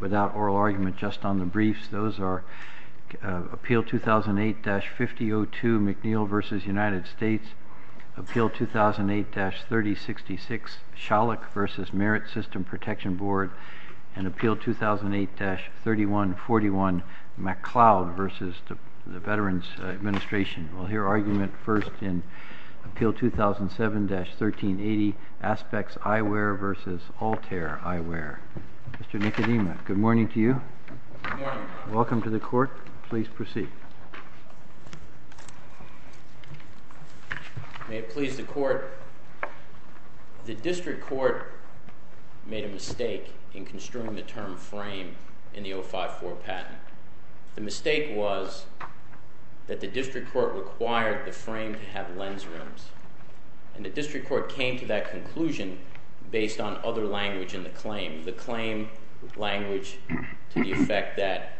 Without oral argument, just on the briefs, those are Appeal 2008-50-02 McNeil v. United States Appeal 2008-30-66 Schalich v. Merit System Protection Board and Appeal 2008-31-41 MacLeod v. Veterans Administration We'll hear argument first in Appeal 2007-13-80 Aspex Eyewear v. Altair Eyewear Mr. Nicodemus, good morning to you. Good morning. Welcome to the court. Please proceed. May it please the court. The district court made a mistake in construing the term frame in the 054 patent. The mistake was that the district court required the frame to have lens rims. And the district court came to that conclusion based on other language in the claim. The claim language to the effect that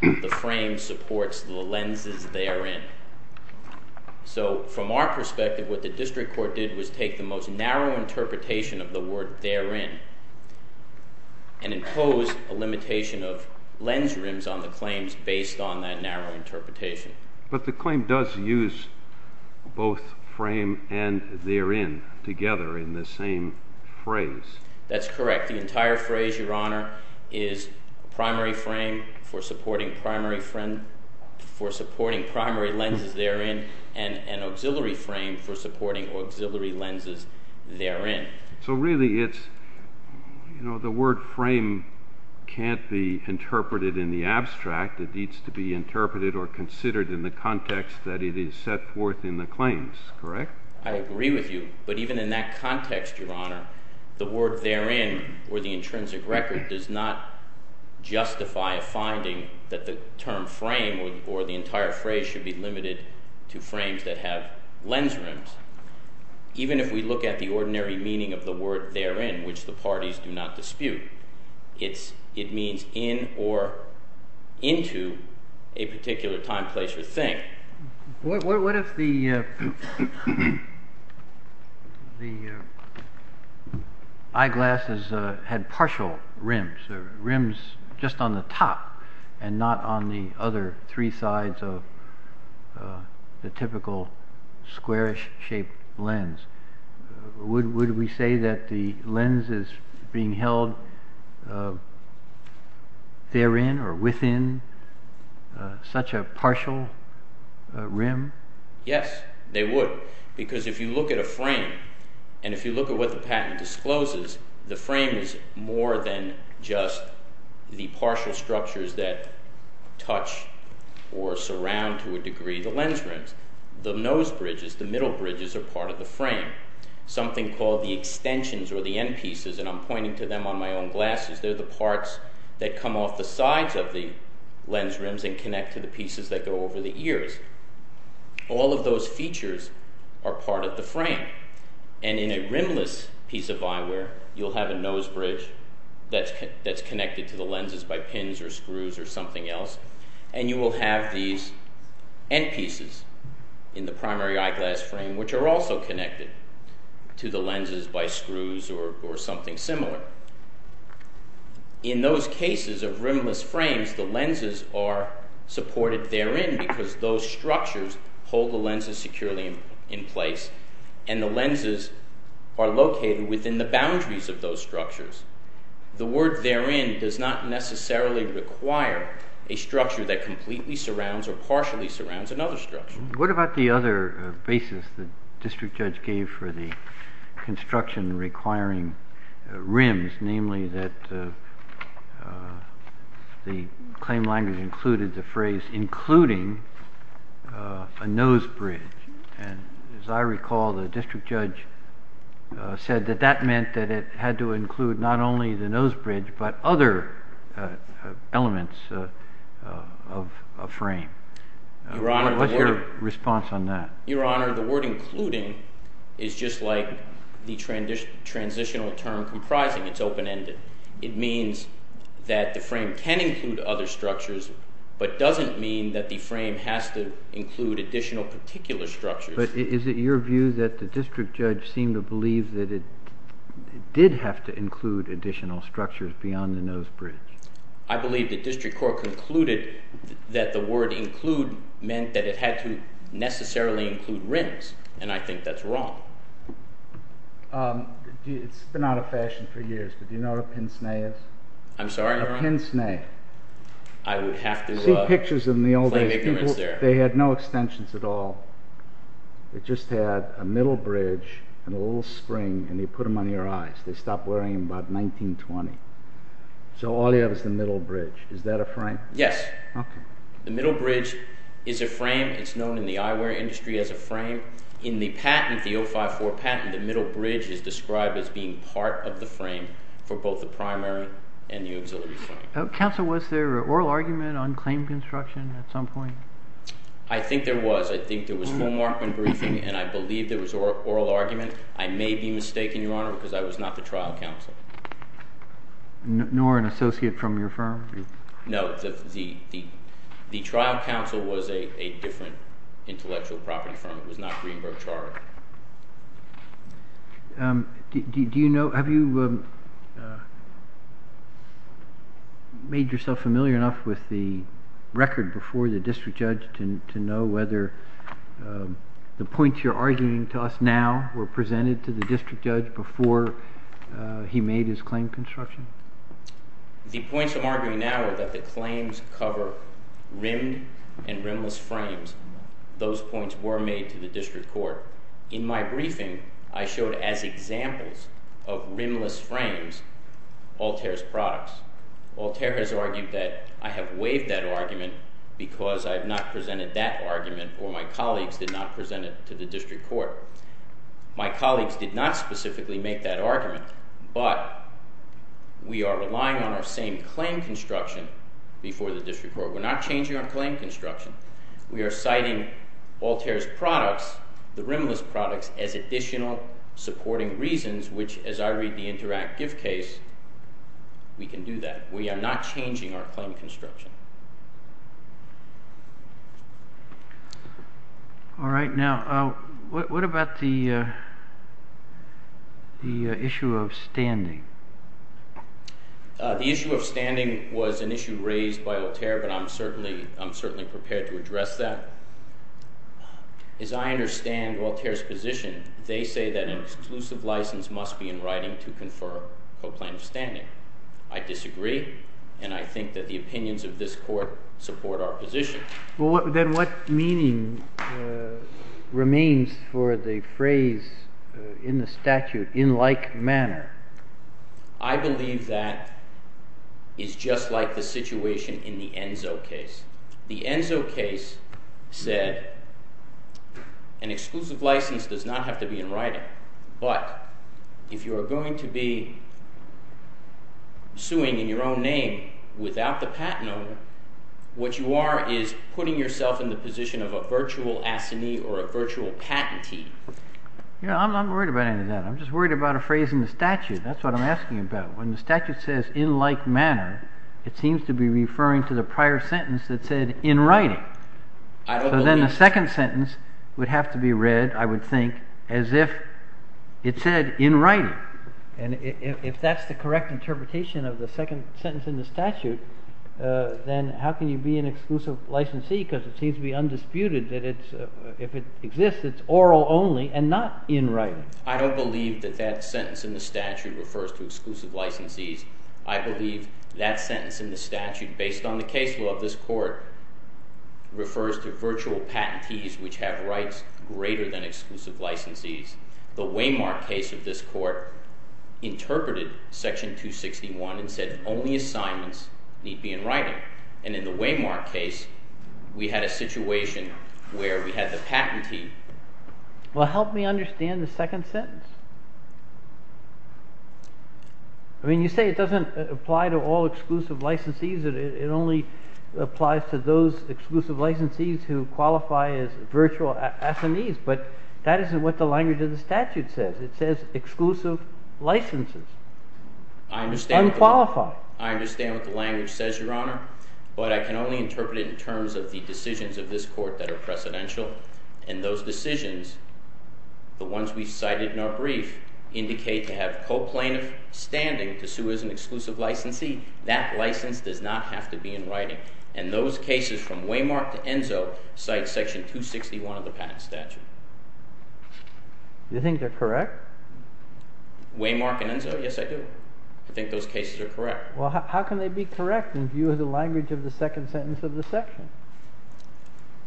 the frame supports the lenses therein. So, from our perspective, what the district court did was take the most narrow interpretation of the word therein and impose a limitation of lens rims on the claims based on that narrow interpretation. But the claim does use both frame and therein together in the same phrase. That's correct. The entire phrase, Your Honor, is primary frame for supporting primary lenses therein and auxiliary frame for supporting auxiliary lenses therein. So really it's, you know, the word frame can't be interpreted in the abstract. It needs to be interpreted or considered in the context that it is set forth in the claims, correct? I agree with you. But even in that context, Your Honor, the word therein or the intrinsic record does not justify a finding that the term frame or the entire phrase should be limited to frames that have lens rims. Even if we look at the ordinary meaning of the word therein, which the parties do not dispute, it means in or into a particular time, place, or thing. What if the eyeglasses had partial rims, or rims just on the top and not on the other three sides of the typical squarish shaped lens? Would we say that the lens is being held therein or within such a partial rim? Yes, they would. Because if you look at a frame, and if you look at what the patent discloses, the frame is more than just the partial structures that touch or surround to a degree the lens rims. The nose bridges, the middle bridges are part of the frame. Something called the extensions or the end pieces, and I'm pointing to them on my own glasses, they're the parts that come off the sides of the lens rims and connect to the pieces that go over the ears. All of those features are part of the frame. And in a rimless piece of eyewear, you'll have a nose bridge that's connected to the lenses by pins or screws or something else, and you will have these end pieces in the primary eyeglass frame which are also connected to the lenses by screws or something similar. In those cases of rimless frames, the lenses are supported therein because those structures hold the lenses securely in place, and the lenses are located within the boundaries of those structures. The word therein does not necessarily require a structure that completely surrounds or partially surrounds another structure. What about the other basis the district judge gave for the construction requiring rims, that the claim language included the phrase, including a nose bridge. And as I recall, the district judge said that that meant that it had to include not only the nose bridge but other elements of a frame. What's your response on that? Your Honor, the word including is just like the transitional term comprising. It's open-ended. It means that the frame can include other structures, but doesn't mean that the frame has to include additional particular structures. But is it your view that the district judge seemed to believe that it did have to include additional structures beyond the nose bridge? I believe the district court concluded that the word include meant that it had to necessarily include rims, and I think that's wrong. It's been out of fashion for years, but do you know what a pinsnay is? I'm sorry, Your Honor? A pinsnay. I would have to... See pictures of them in the old days. They had no extensions at all. They just had a middle bridge and a little spring, and you put them on your eyes. They stopped wearing them about 1920. So all you have is the middle bridge. Is that a frame? Yes. Okay. The middle bridge is a frame. It's known in the eyewear industry as a frame. In the patent, the 054 patent, the middle bridge is described as being part of the frame for both the primary and the auxiliary frame. Counsel, was there an oral argument on claim construction at some point? I think there was. I think there was full markman briefing, and I believe there was oral argument. I may be mistaken, Your Honor, because I was not the trial counsel. Nor an associate from your firm? No. The trial counsel was a different intellectual property firm. It was not Greenberg Charter. Have you made yourself familiar enough with the record before the district judge to know whether the points you're arguing to us now were presented to the district judge before he made his claim construction? The points I'm arguing now are that the claims cover rimmed and rimless frames. Those points were made to the district court. In my briefing, I showed as examples of rimless frames Altair's products. Altair has argued that I have waived that argument because I have not presented that argument, or my colleagues did not present it to the district court. My colleagues did not specifically make that argument, but we are relying on our same claim construction before the district court. We're not changing our claim construction. We are citing Altair's products, the rimless products, as additional supporting reasons, which, as I read the Interact gift case, we can do that. We are not changing our claim construction. All right. Now, what about the issue of standing? The issue of standing was an issue raised by Altair, but I'm certainly prepared to address that. As I understand Altair's position, they say that an exclusive license must be in writing to confer coplaint of standing. I disagree, and I think that the opinions of this court support our position. Then what meaning remains for the phrase in the statute, in like manner? I believe that is just like the situation in the Enzo case. The Enzo case said an exclusive license does not have to be in writing, but if you are going to be suing in your own name without the patent owner, what you are is putting yourself in the position of a virtual assignee or a virtual patentee. I'm not worried about any of that. I'm just worried about a phrase in the statute. That's what I'm asking about. When the statute says in like manner, it seems to be referring to the prior sentence that said in writing. So then the second sentence would have to be read, I would think, as if it said in writing. And if that's the correct interpretation of the second sentence in the statute, then how can you be an exclusive licensee because it seems to be undisputed that if it exists, it's oral only and not in writing. I don't believe that that sentence in the statute refers to exclusive licensees. I believe that sentence in the statute, based on the case law of this court, refers to virtual patentees which have rights greater than exclusive licensees. The Waymark case of this court interpreted section 261 and said only assignments need to be in writing. And in the Waymark case, we had a situation where we had the patentee. Well, help me understand the second sentence. I mean, you say it doesn't apply to all exclusive licensees. It only applies to those exclusive licensees who qualify as virtual SMEs. But that isn't what the language of the statute says. It says exclusive licenses. Unqualified. I understand what the language says, Your Honor. But I can only interpret it in terms of the decisions of this court that are precedential. And those decisions, the ones we cited in our brief, indicate to have co-plaintiff standing to sue as an exclusive licensee. That license does not have to be in writing. And those cases from Waymark to Enzo cite section 261 of the patent statute. Do you think they're correct? Waymark and Enzo, yes, I do. I think those cases are correct. Well, how can they be correct in view of the language of the second sentence of the section?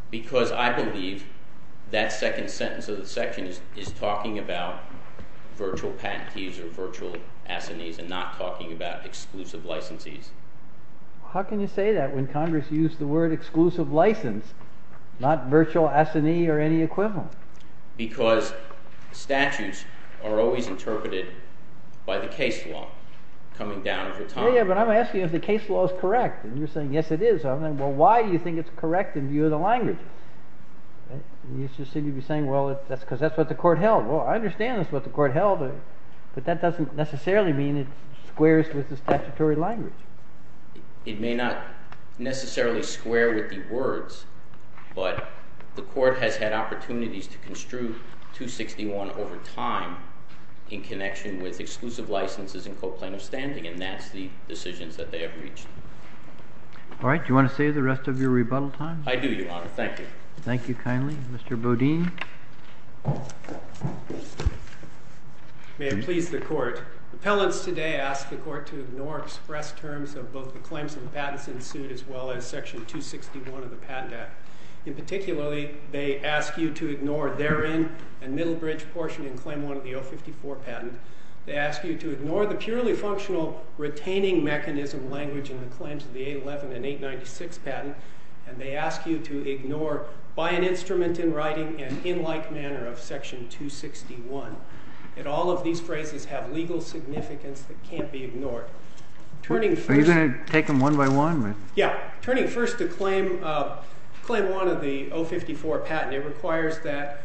Because I believe that second sentence of the section is talking about virtual patentees or virtual SMEs and not talking about exclusive licensees. How can you say that when Congress used the word exclusive license, not virtual SME or any equivalent? Because statutes are always interpreted by the case law coming down over time. Yeah, but I'm asking if the case law is correct. And you're saying, yes, it is. Well, why do you think it's correct in view of the language? And you said you'd be saying, well, that's because that's what the court held. Well, I understand that's what the court held. But that doesn't necessarily mean it squares with the statutory language. It may not necessarily square with the words. But the court has had opportunities to construe 261 over time in connection with exclusive licenses and co-plaintiff standing. And that's the decisions that they have reached. All right. Do you want to save the rest of your rebuttal time? I do, Your Honor. Thank you. Thank you kindly. Mr. Bodine. May it please the Court. Appellants today ask the Court to ignore express terms of both the claims of the patents in suit as well as section 261 of the Patent Act. In particular, they ask you to ignore therein a middle bridge portion in claim 1 of the 054 patent. They ask you to ignore the purely functional retaining mechanism language in the claims of the 811 and 896 patent. And they ask you to ignore, by an instrument in writing and in like manner of section 261. And all of these phrases have legal significance that can't be ignored. Are you going to take them one by one? Yeah. Turning first to claim 1 of the 054 patent. It requires that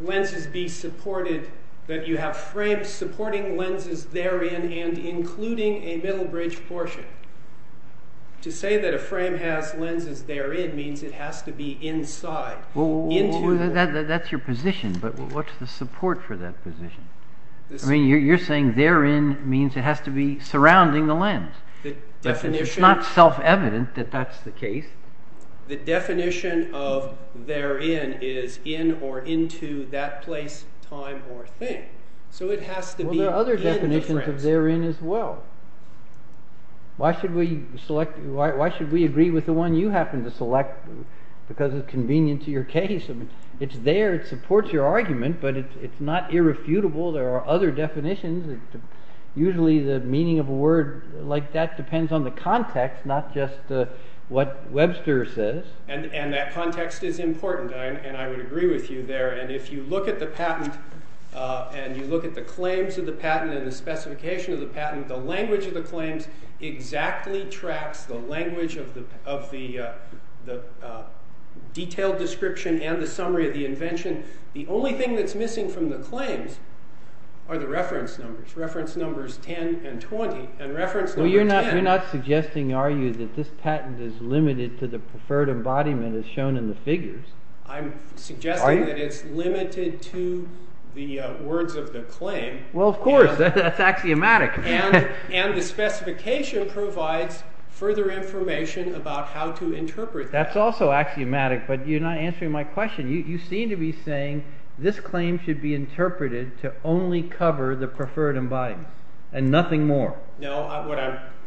lenses be supported. That you have frames supporting lenses therein and including a middle bridge portion. To say that a frame has lenses therein means it has to be inside. Well, that's your position. But what's the support for that position? I mean, you're saying therein means it has to be surrounding the lens. It's not self-evident that that's the case. The definition of therein is in or into that place, time, or thing. So it has to be in the frame. Well, there are other definitions of therein as well. Why should we agree with the one you happen to select because it's convenient to your case? It's there. It supports your argument. But it's not irrefutable. There are other definitions. Usually the meaning of a word like that depends on the context, not just what Webster says. And that context is important, and I would agree with you there. And if you look at the patent and you look at the claims of the patent and the specification of the patent, the language of the claims exactly tracks the language of the detailed description and the summary of the invention. The only thing that's missing from the claims are the reference numbers, reference numbers 10 and 20. And reference number 10— Well, you're not suggesting, are you, that this patent is limited to the preferred embodiment as shown in the figures? I'm suggesting that it's limited to the words of the claim. Well, of course. That's axiomatic. And the specification provides further information about how to interpret that. That's also axiomatic, but you're not answering my question. You seem to be saying this claim should be interpreted to only cover the preferred embodiment and nothing more. No,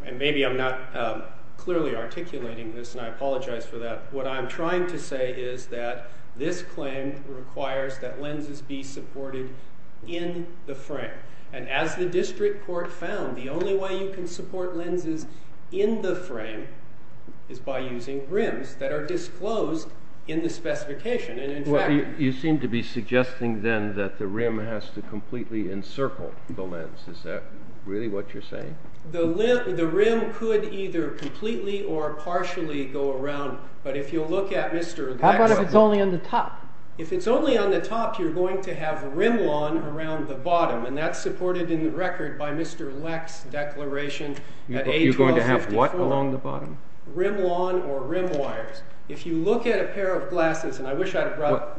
and maybe I'm not clearly articulating this, and I apologize for that. What I'm trying to say is that this claim requires that lenses be supported in the frame. And as the district court found, the only way you can support lenses in the frame is by using rims that are disclosed in the specification. You seem to be suggesting, then, that the rim has to completely encircle the lens. Is that really what you're saying? The rim could either completely or partially go around, but if you look at Mr. Leck's— How about if it's only on the top? If it's only on the top, you're going to have rimlon around the bottom, and that's supported in the record by Mr. Leck's declaration at A1254. Rimlon or rimwires. If you look at a pair of glasses— Well,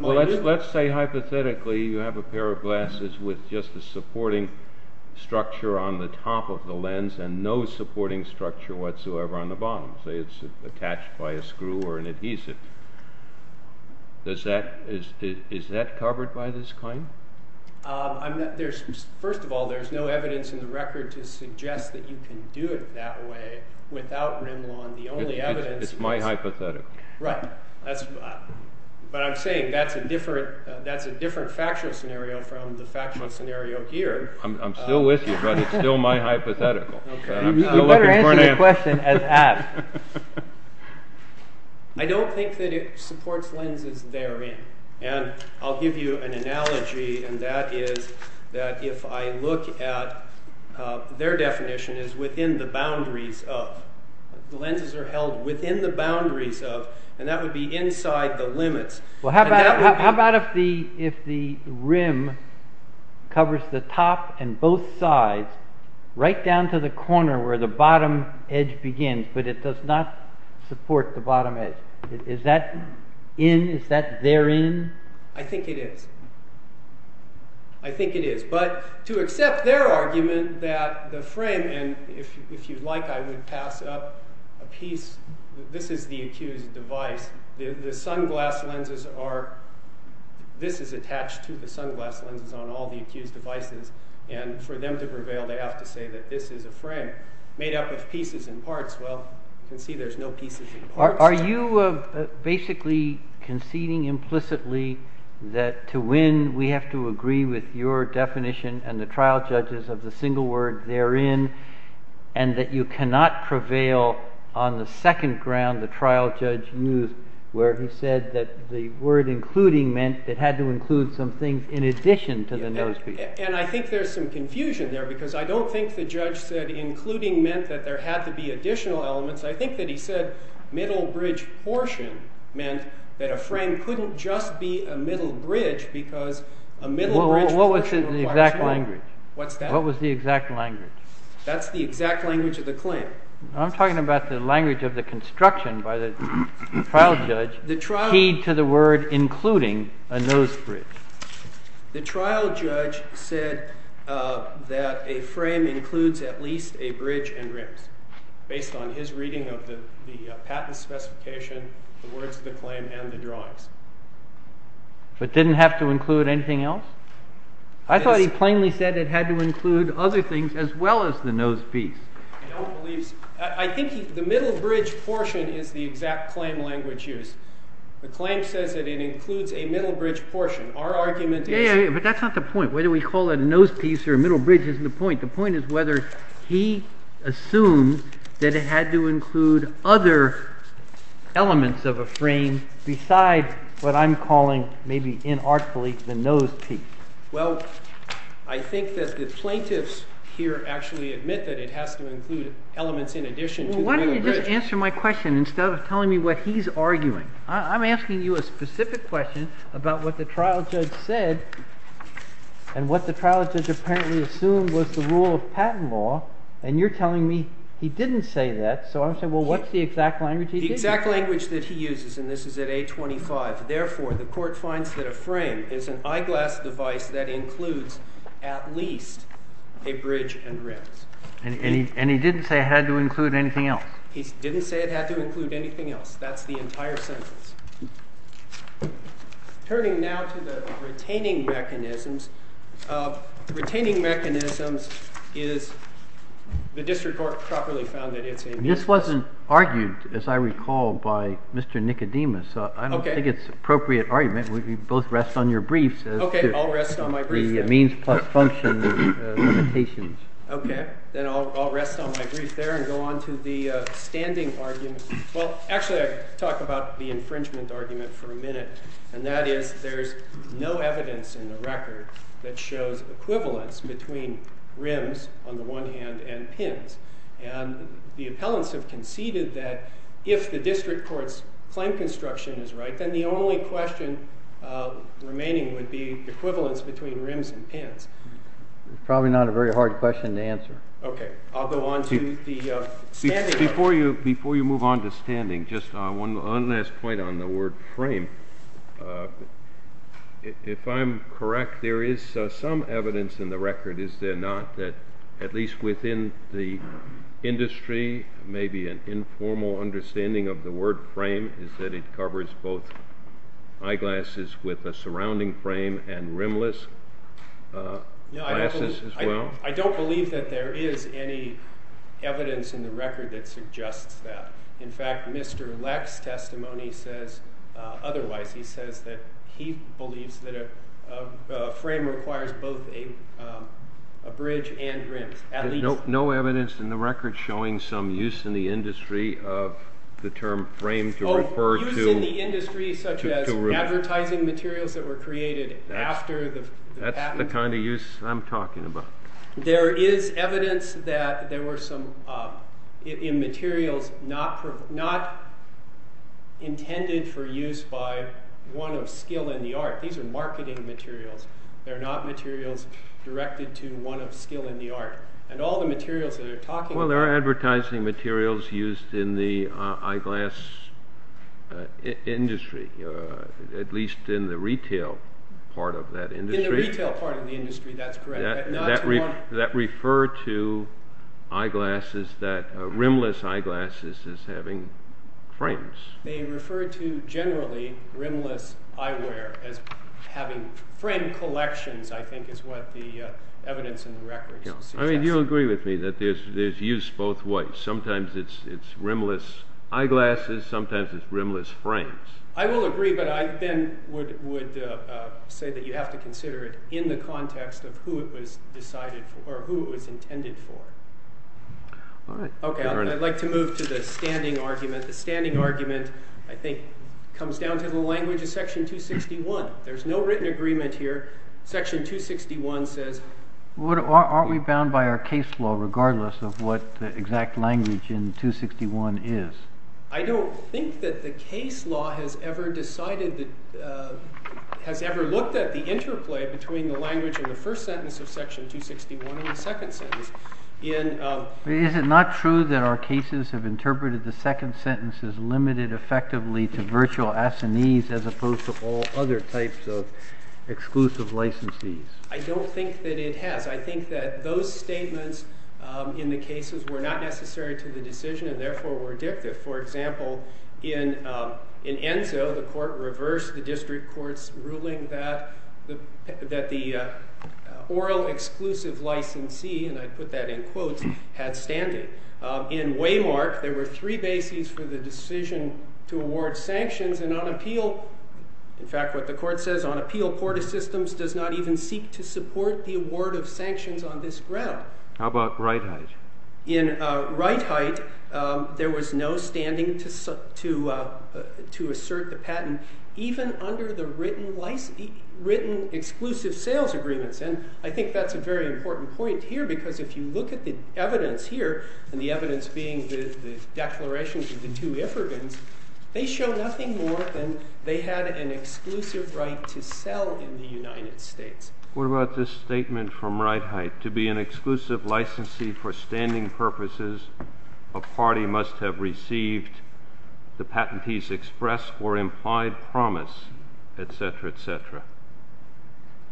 let's say, hypothetically, you have a pair of glasses with just a supporting structure on the top of the lens and no supporting structure whatsoever on the bottom. Say it's attached by a screw or an adhesive. Is that covered by this claim? First of all, there's no evidence in the record to suggest that you can do it that way without rimlon. The only evidence— It's my hypothetical. Right. But I'm saying that's a different factual scenario from the factual scenario here. I'm still with you, but it's still my hypothetical. You better answer the question as asked. I don't think that it supports lenses therein, and I'll give you an analogy, and that is that if I look at— Their definition is within the boundaries of. The lenses are held within the boundaries of, and that would be inside the limits. Well, how about if the rim covers the top and both sides right down to the corner where the bottom edge begins, but it does not support the bottom edge. Is that in? Is that therein? I think it is. I think it is. But to accept their argument that the frame—and if you'd like, I would pass up a piece. This is the accused device. The sunglass lenses are—this is attached to the sunglass lenses on all the accused devices. And for them to prevail, they have to say that this is a frame made up of pieces and parts. Well, you can see there's no pieces and parts. Are you basically conceding implicitly that to win, we have to agree with your definition and the trial judges of the single word therein, and that you cannot prevail on the second ground the trial judge used where he said that the word including meant it had to include some things in addition to the no speech? And I think there's some confusion there because I don't think the judge said including meant that there had to be additional elements. I think that he said middle bridge portion meant that a frame couldn't just be a middle bridge because a middle bridge— What was the exact language? What's that? What was the exact language? That's the exact language of the claim. I'm talking about the language of the construction by the trial judge keyed to the word including a nose bridge. The trial judge said that a frame includes at least a bridge and rims based on his reading of the patent specification, the words of the claim, and the drawings. But didn't have to include anything else? I thought he plainly said it had to include other things as well as the nose piece. I think the middle bridge portion is the exact claim language used. The claim says that it includes a middle bridge portion. Our argument is— Yeah, yeah, yeah, but that's not the point. Whether we call it a nose piece or a middle bridge isn't the point. The point is whether he assumed that it had to include other elements of a frame besides what I'm calling maybe inartfully the nose piece. Well, I think that the plaintiffs here actually admit that it has to include elements in addition to the middle bridge. Just answer my question instead of telling me what he's arguing. I'm asking you a specific question about what the trial judge said and what the trial judge apparently assumed was the rule of patent law, and you're telling me he didn't say that. So I'm saying, well, what's the exact language he used? The exact language that he uses, and this is at A25. Therefore, the court finds that a frame is an eyeglass device that includes at least a bridge and rims. And he didn't say it had to include anything else? He didn't say it had to include anything else. That's the entire sentence. Turning now to the retaining mechanisms, retaining mechanisms is the district court properly found that it's a— This wasn't argued, as I recall, by Mr. Nicodemus. Okay. I don't think it's an appropriate argument. We both rest on your briefs as to— Okay, I'll rest on my briefs then. —the means plus function limitations. Okay, then I'll rest on my brief there and go on to the standing argument. Well, actually, I'll talk about the infringement argument for a minute, and that is there's no evidence in the record that shows equivalence between rims, on the one hand, and pins. And the appellants have conceded that if the district court's claim construction is right, then the only question remaining would be equivalence between rims and pins. Probably not a very hard question to answer. Okay, I'll go on to the standing argument. Before you move on to standing, just one last point on the word frame. If I'm correct, there is some evidence in the record, is there not, that at least within the industry, maybe an informal understanding of the word frame, is that it covers both eyeglasses with a surrounding frame and rimless glasses as well? I don't believe that there is any evidence in the record that suggests that. In fact, Mr. Leck's testimony says otherwise. He says that he believes that a frame requires both a bridge and rims, at least— No evidence in the record showing some use in the industry of the term frame to refer to— Oh, use in the industry such as advertising materials that were created after the patent? That's the kind of use I'm talking about. There is evidence that there were some materials not intended for use by one of skill in the art. These are marketing materials. They're not materials directed to one of skill in the art. And all the materials that they're talking about— Well, they're advertising materials used in the eyeglass industry, at least in the retail part of that industry. In the retail part of the industry, that's correct. That refer to rimless eyeglasses as having frames. They refer to generally rimless eyewear as having frame collections, I think, is what the evidence in the record suggests. I mean, you'll agree with me that there's use both ways. Sometimes it's rimless eyeglasses. Sometimes it's rimless frames. I will agree, but I then would say that you have to consider it in the context of who it was intended for. Okay, I'd like to move to the standing argument. The standing argument, I think, comes down to the language of Section 261. There's no written agreement here. Section 261 says— Aren't we bound by our case law regardless of what the exact language in 261 is? I don't think that the case law has ever decided—has ever looked at the interplay between the language in the first sentence of Section 261 and the second sentence. Is it not true that our cases have interpreted the second sentence as limited effectively to virtual assinees as opposed to all other types of exclusive licensees? I don't think that it has. I think that those statements in the cases were not necessary to the decision and therefore were addictive. For example, in Enzo, the court reversed the district court's ruling that the oral exclusive licensee—and I put that in quotes—had standing. In Waymark, there were three bases for the decision to award sanctions, and on appeal— in fact, what the court says, on appeal, Porta Systems does not even seek to support the award of sanctions on this ground. How about Wright Height? In Wright Height, there was no standing to assert the patent even under the written exclusive sales agreements. And I think that's a very important point here because if you look at the evidence here, and the evidence being the declarations of the two Iffergens, they show nothing more than they had an exclusive right to sell in the United States. What about this statement from Wright Height? To be an exclusive licensee for standing purposes, a party must have received the patentees' express or implied promise, etc., etc.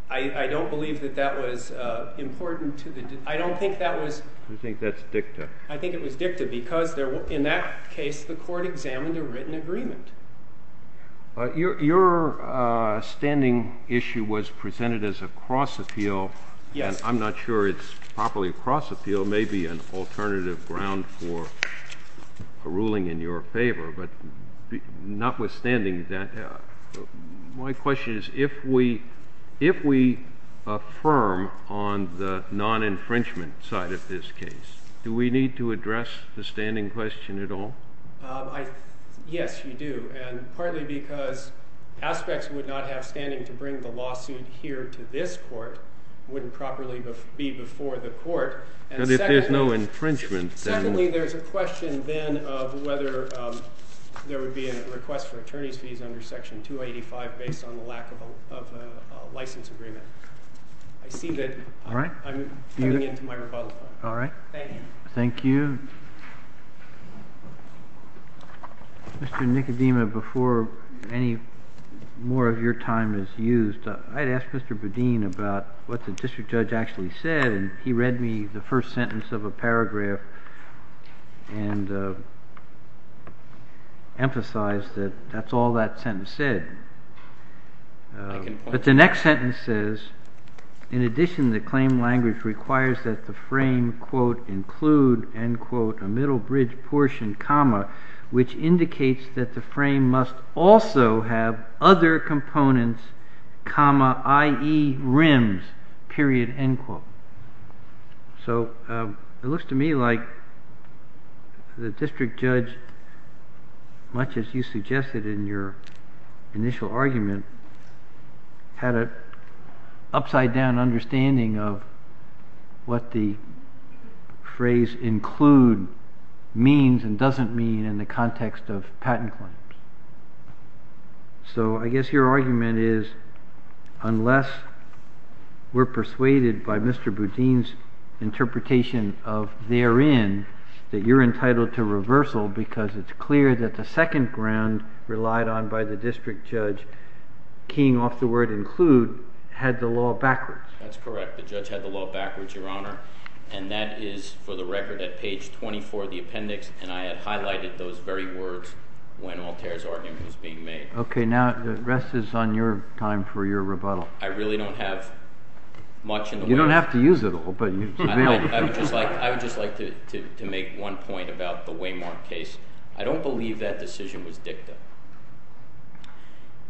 I don't believe that that was important to the—I don't think that was— You think that's dicta. I think it was dicta because in that case, the court examined a written agreement. Your standing issue was presented as a cross-appeal. Yes. And I'm not sure it's properly a cross-appeal. It may be an alternative ground for a ruling in your favor. But notwithstanding that, my question is, if we affirm on the non-infringement side of this case, do we need to address the standing question at all? Yes, you do. And partly because aspects we would not have standing to bring the lawsuit here to this court wouldn't properly be before the court. But if there's no infringement, then— Secondly, there's a question then of whether there would be a request for attorney's fees under Section 285 based on the lack of a license agreement. I see that I'm cutting into my rebuttal time. All right. Thank you. Thank you. Mr. Nicodema, before any more of your time is used, I'd ask Mr. Bedin about what the district judge actually said. And he read me the first sentence of a paragraph and emphasized that that's all that sentence said. But the next sentence says, in addition, the claim language requires that the frame, quote, include, end quote, a middle bridge portion, comma, which indicates that the frame must also have other components, comma, i.e. rims, period, end quote. So it looks to me like the district judge, much as you suggested in your initial argument, had an upside-down understanding of what the phrase include means and doesn't mean in the context of patent claims. So I guess your argument is, unless we're persuaded by Mr. Bedin's interpretation of therein, that you're entitled to reversal because it's clear that the second ground relied on by the district judge, keying off the word include, had the law backwards. That's correct. The judge had the law backwards, Your Honor. And that is, for the record, at page 24 of the appendix. And I had highlighted those very words when Altair's argument was being made. OK. Now the rest is on your time for your rebuttal. I really don't have much in the way of. You don't have to use it all, but it's available. I would just like to make one point about the Waymark case. I don't believe that decision was dicta.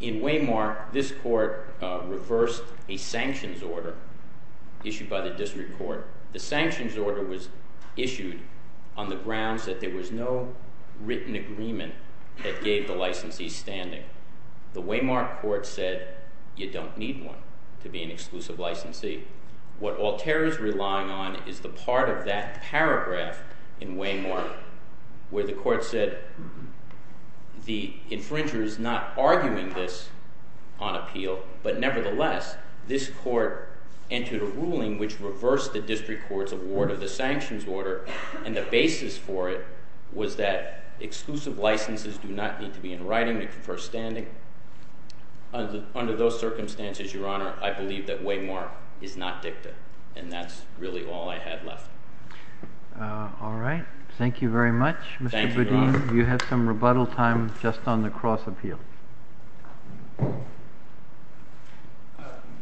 In Waymark, this court reversed a sanctions order issued by the district court. The sanctions order was issued on the grounds that there was no written agreement that gave the licensee standing. The Waymark court said, you don't need one to be an exclusive licensee. What Altair is relying on is the part of that paragraph in Waymark where the court said the infringer is not arguing this on appeal. But nevertheless, this court entered a ruling which reversed the district court's award of the sanctions order. And the basis for it was that exclusive licensees do not need to be in writing to confer standing. Under those circumstances, Your Honor, I believe that Waymark is not dicta. And that's really all I had left. All right. Thank you very much. Thank you, Your Honor. You have some rebuttal time just on the cross appeal.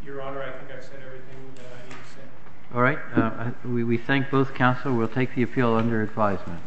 Your Honor, I think I've said everything that I need to say. All right. We thank both counsel. We'll take the appeal under advisement.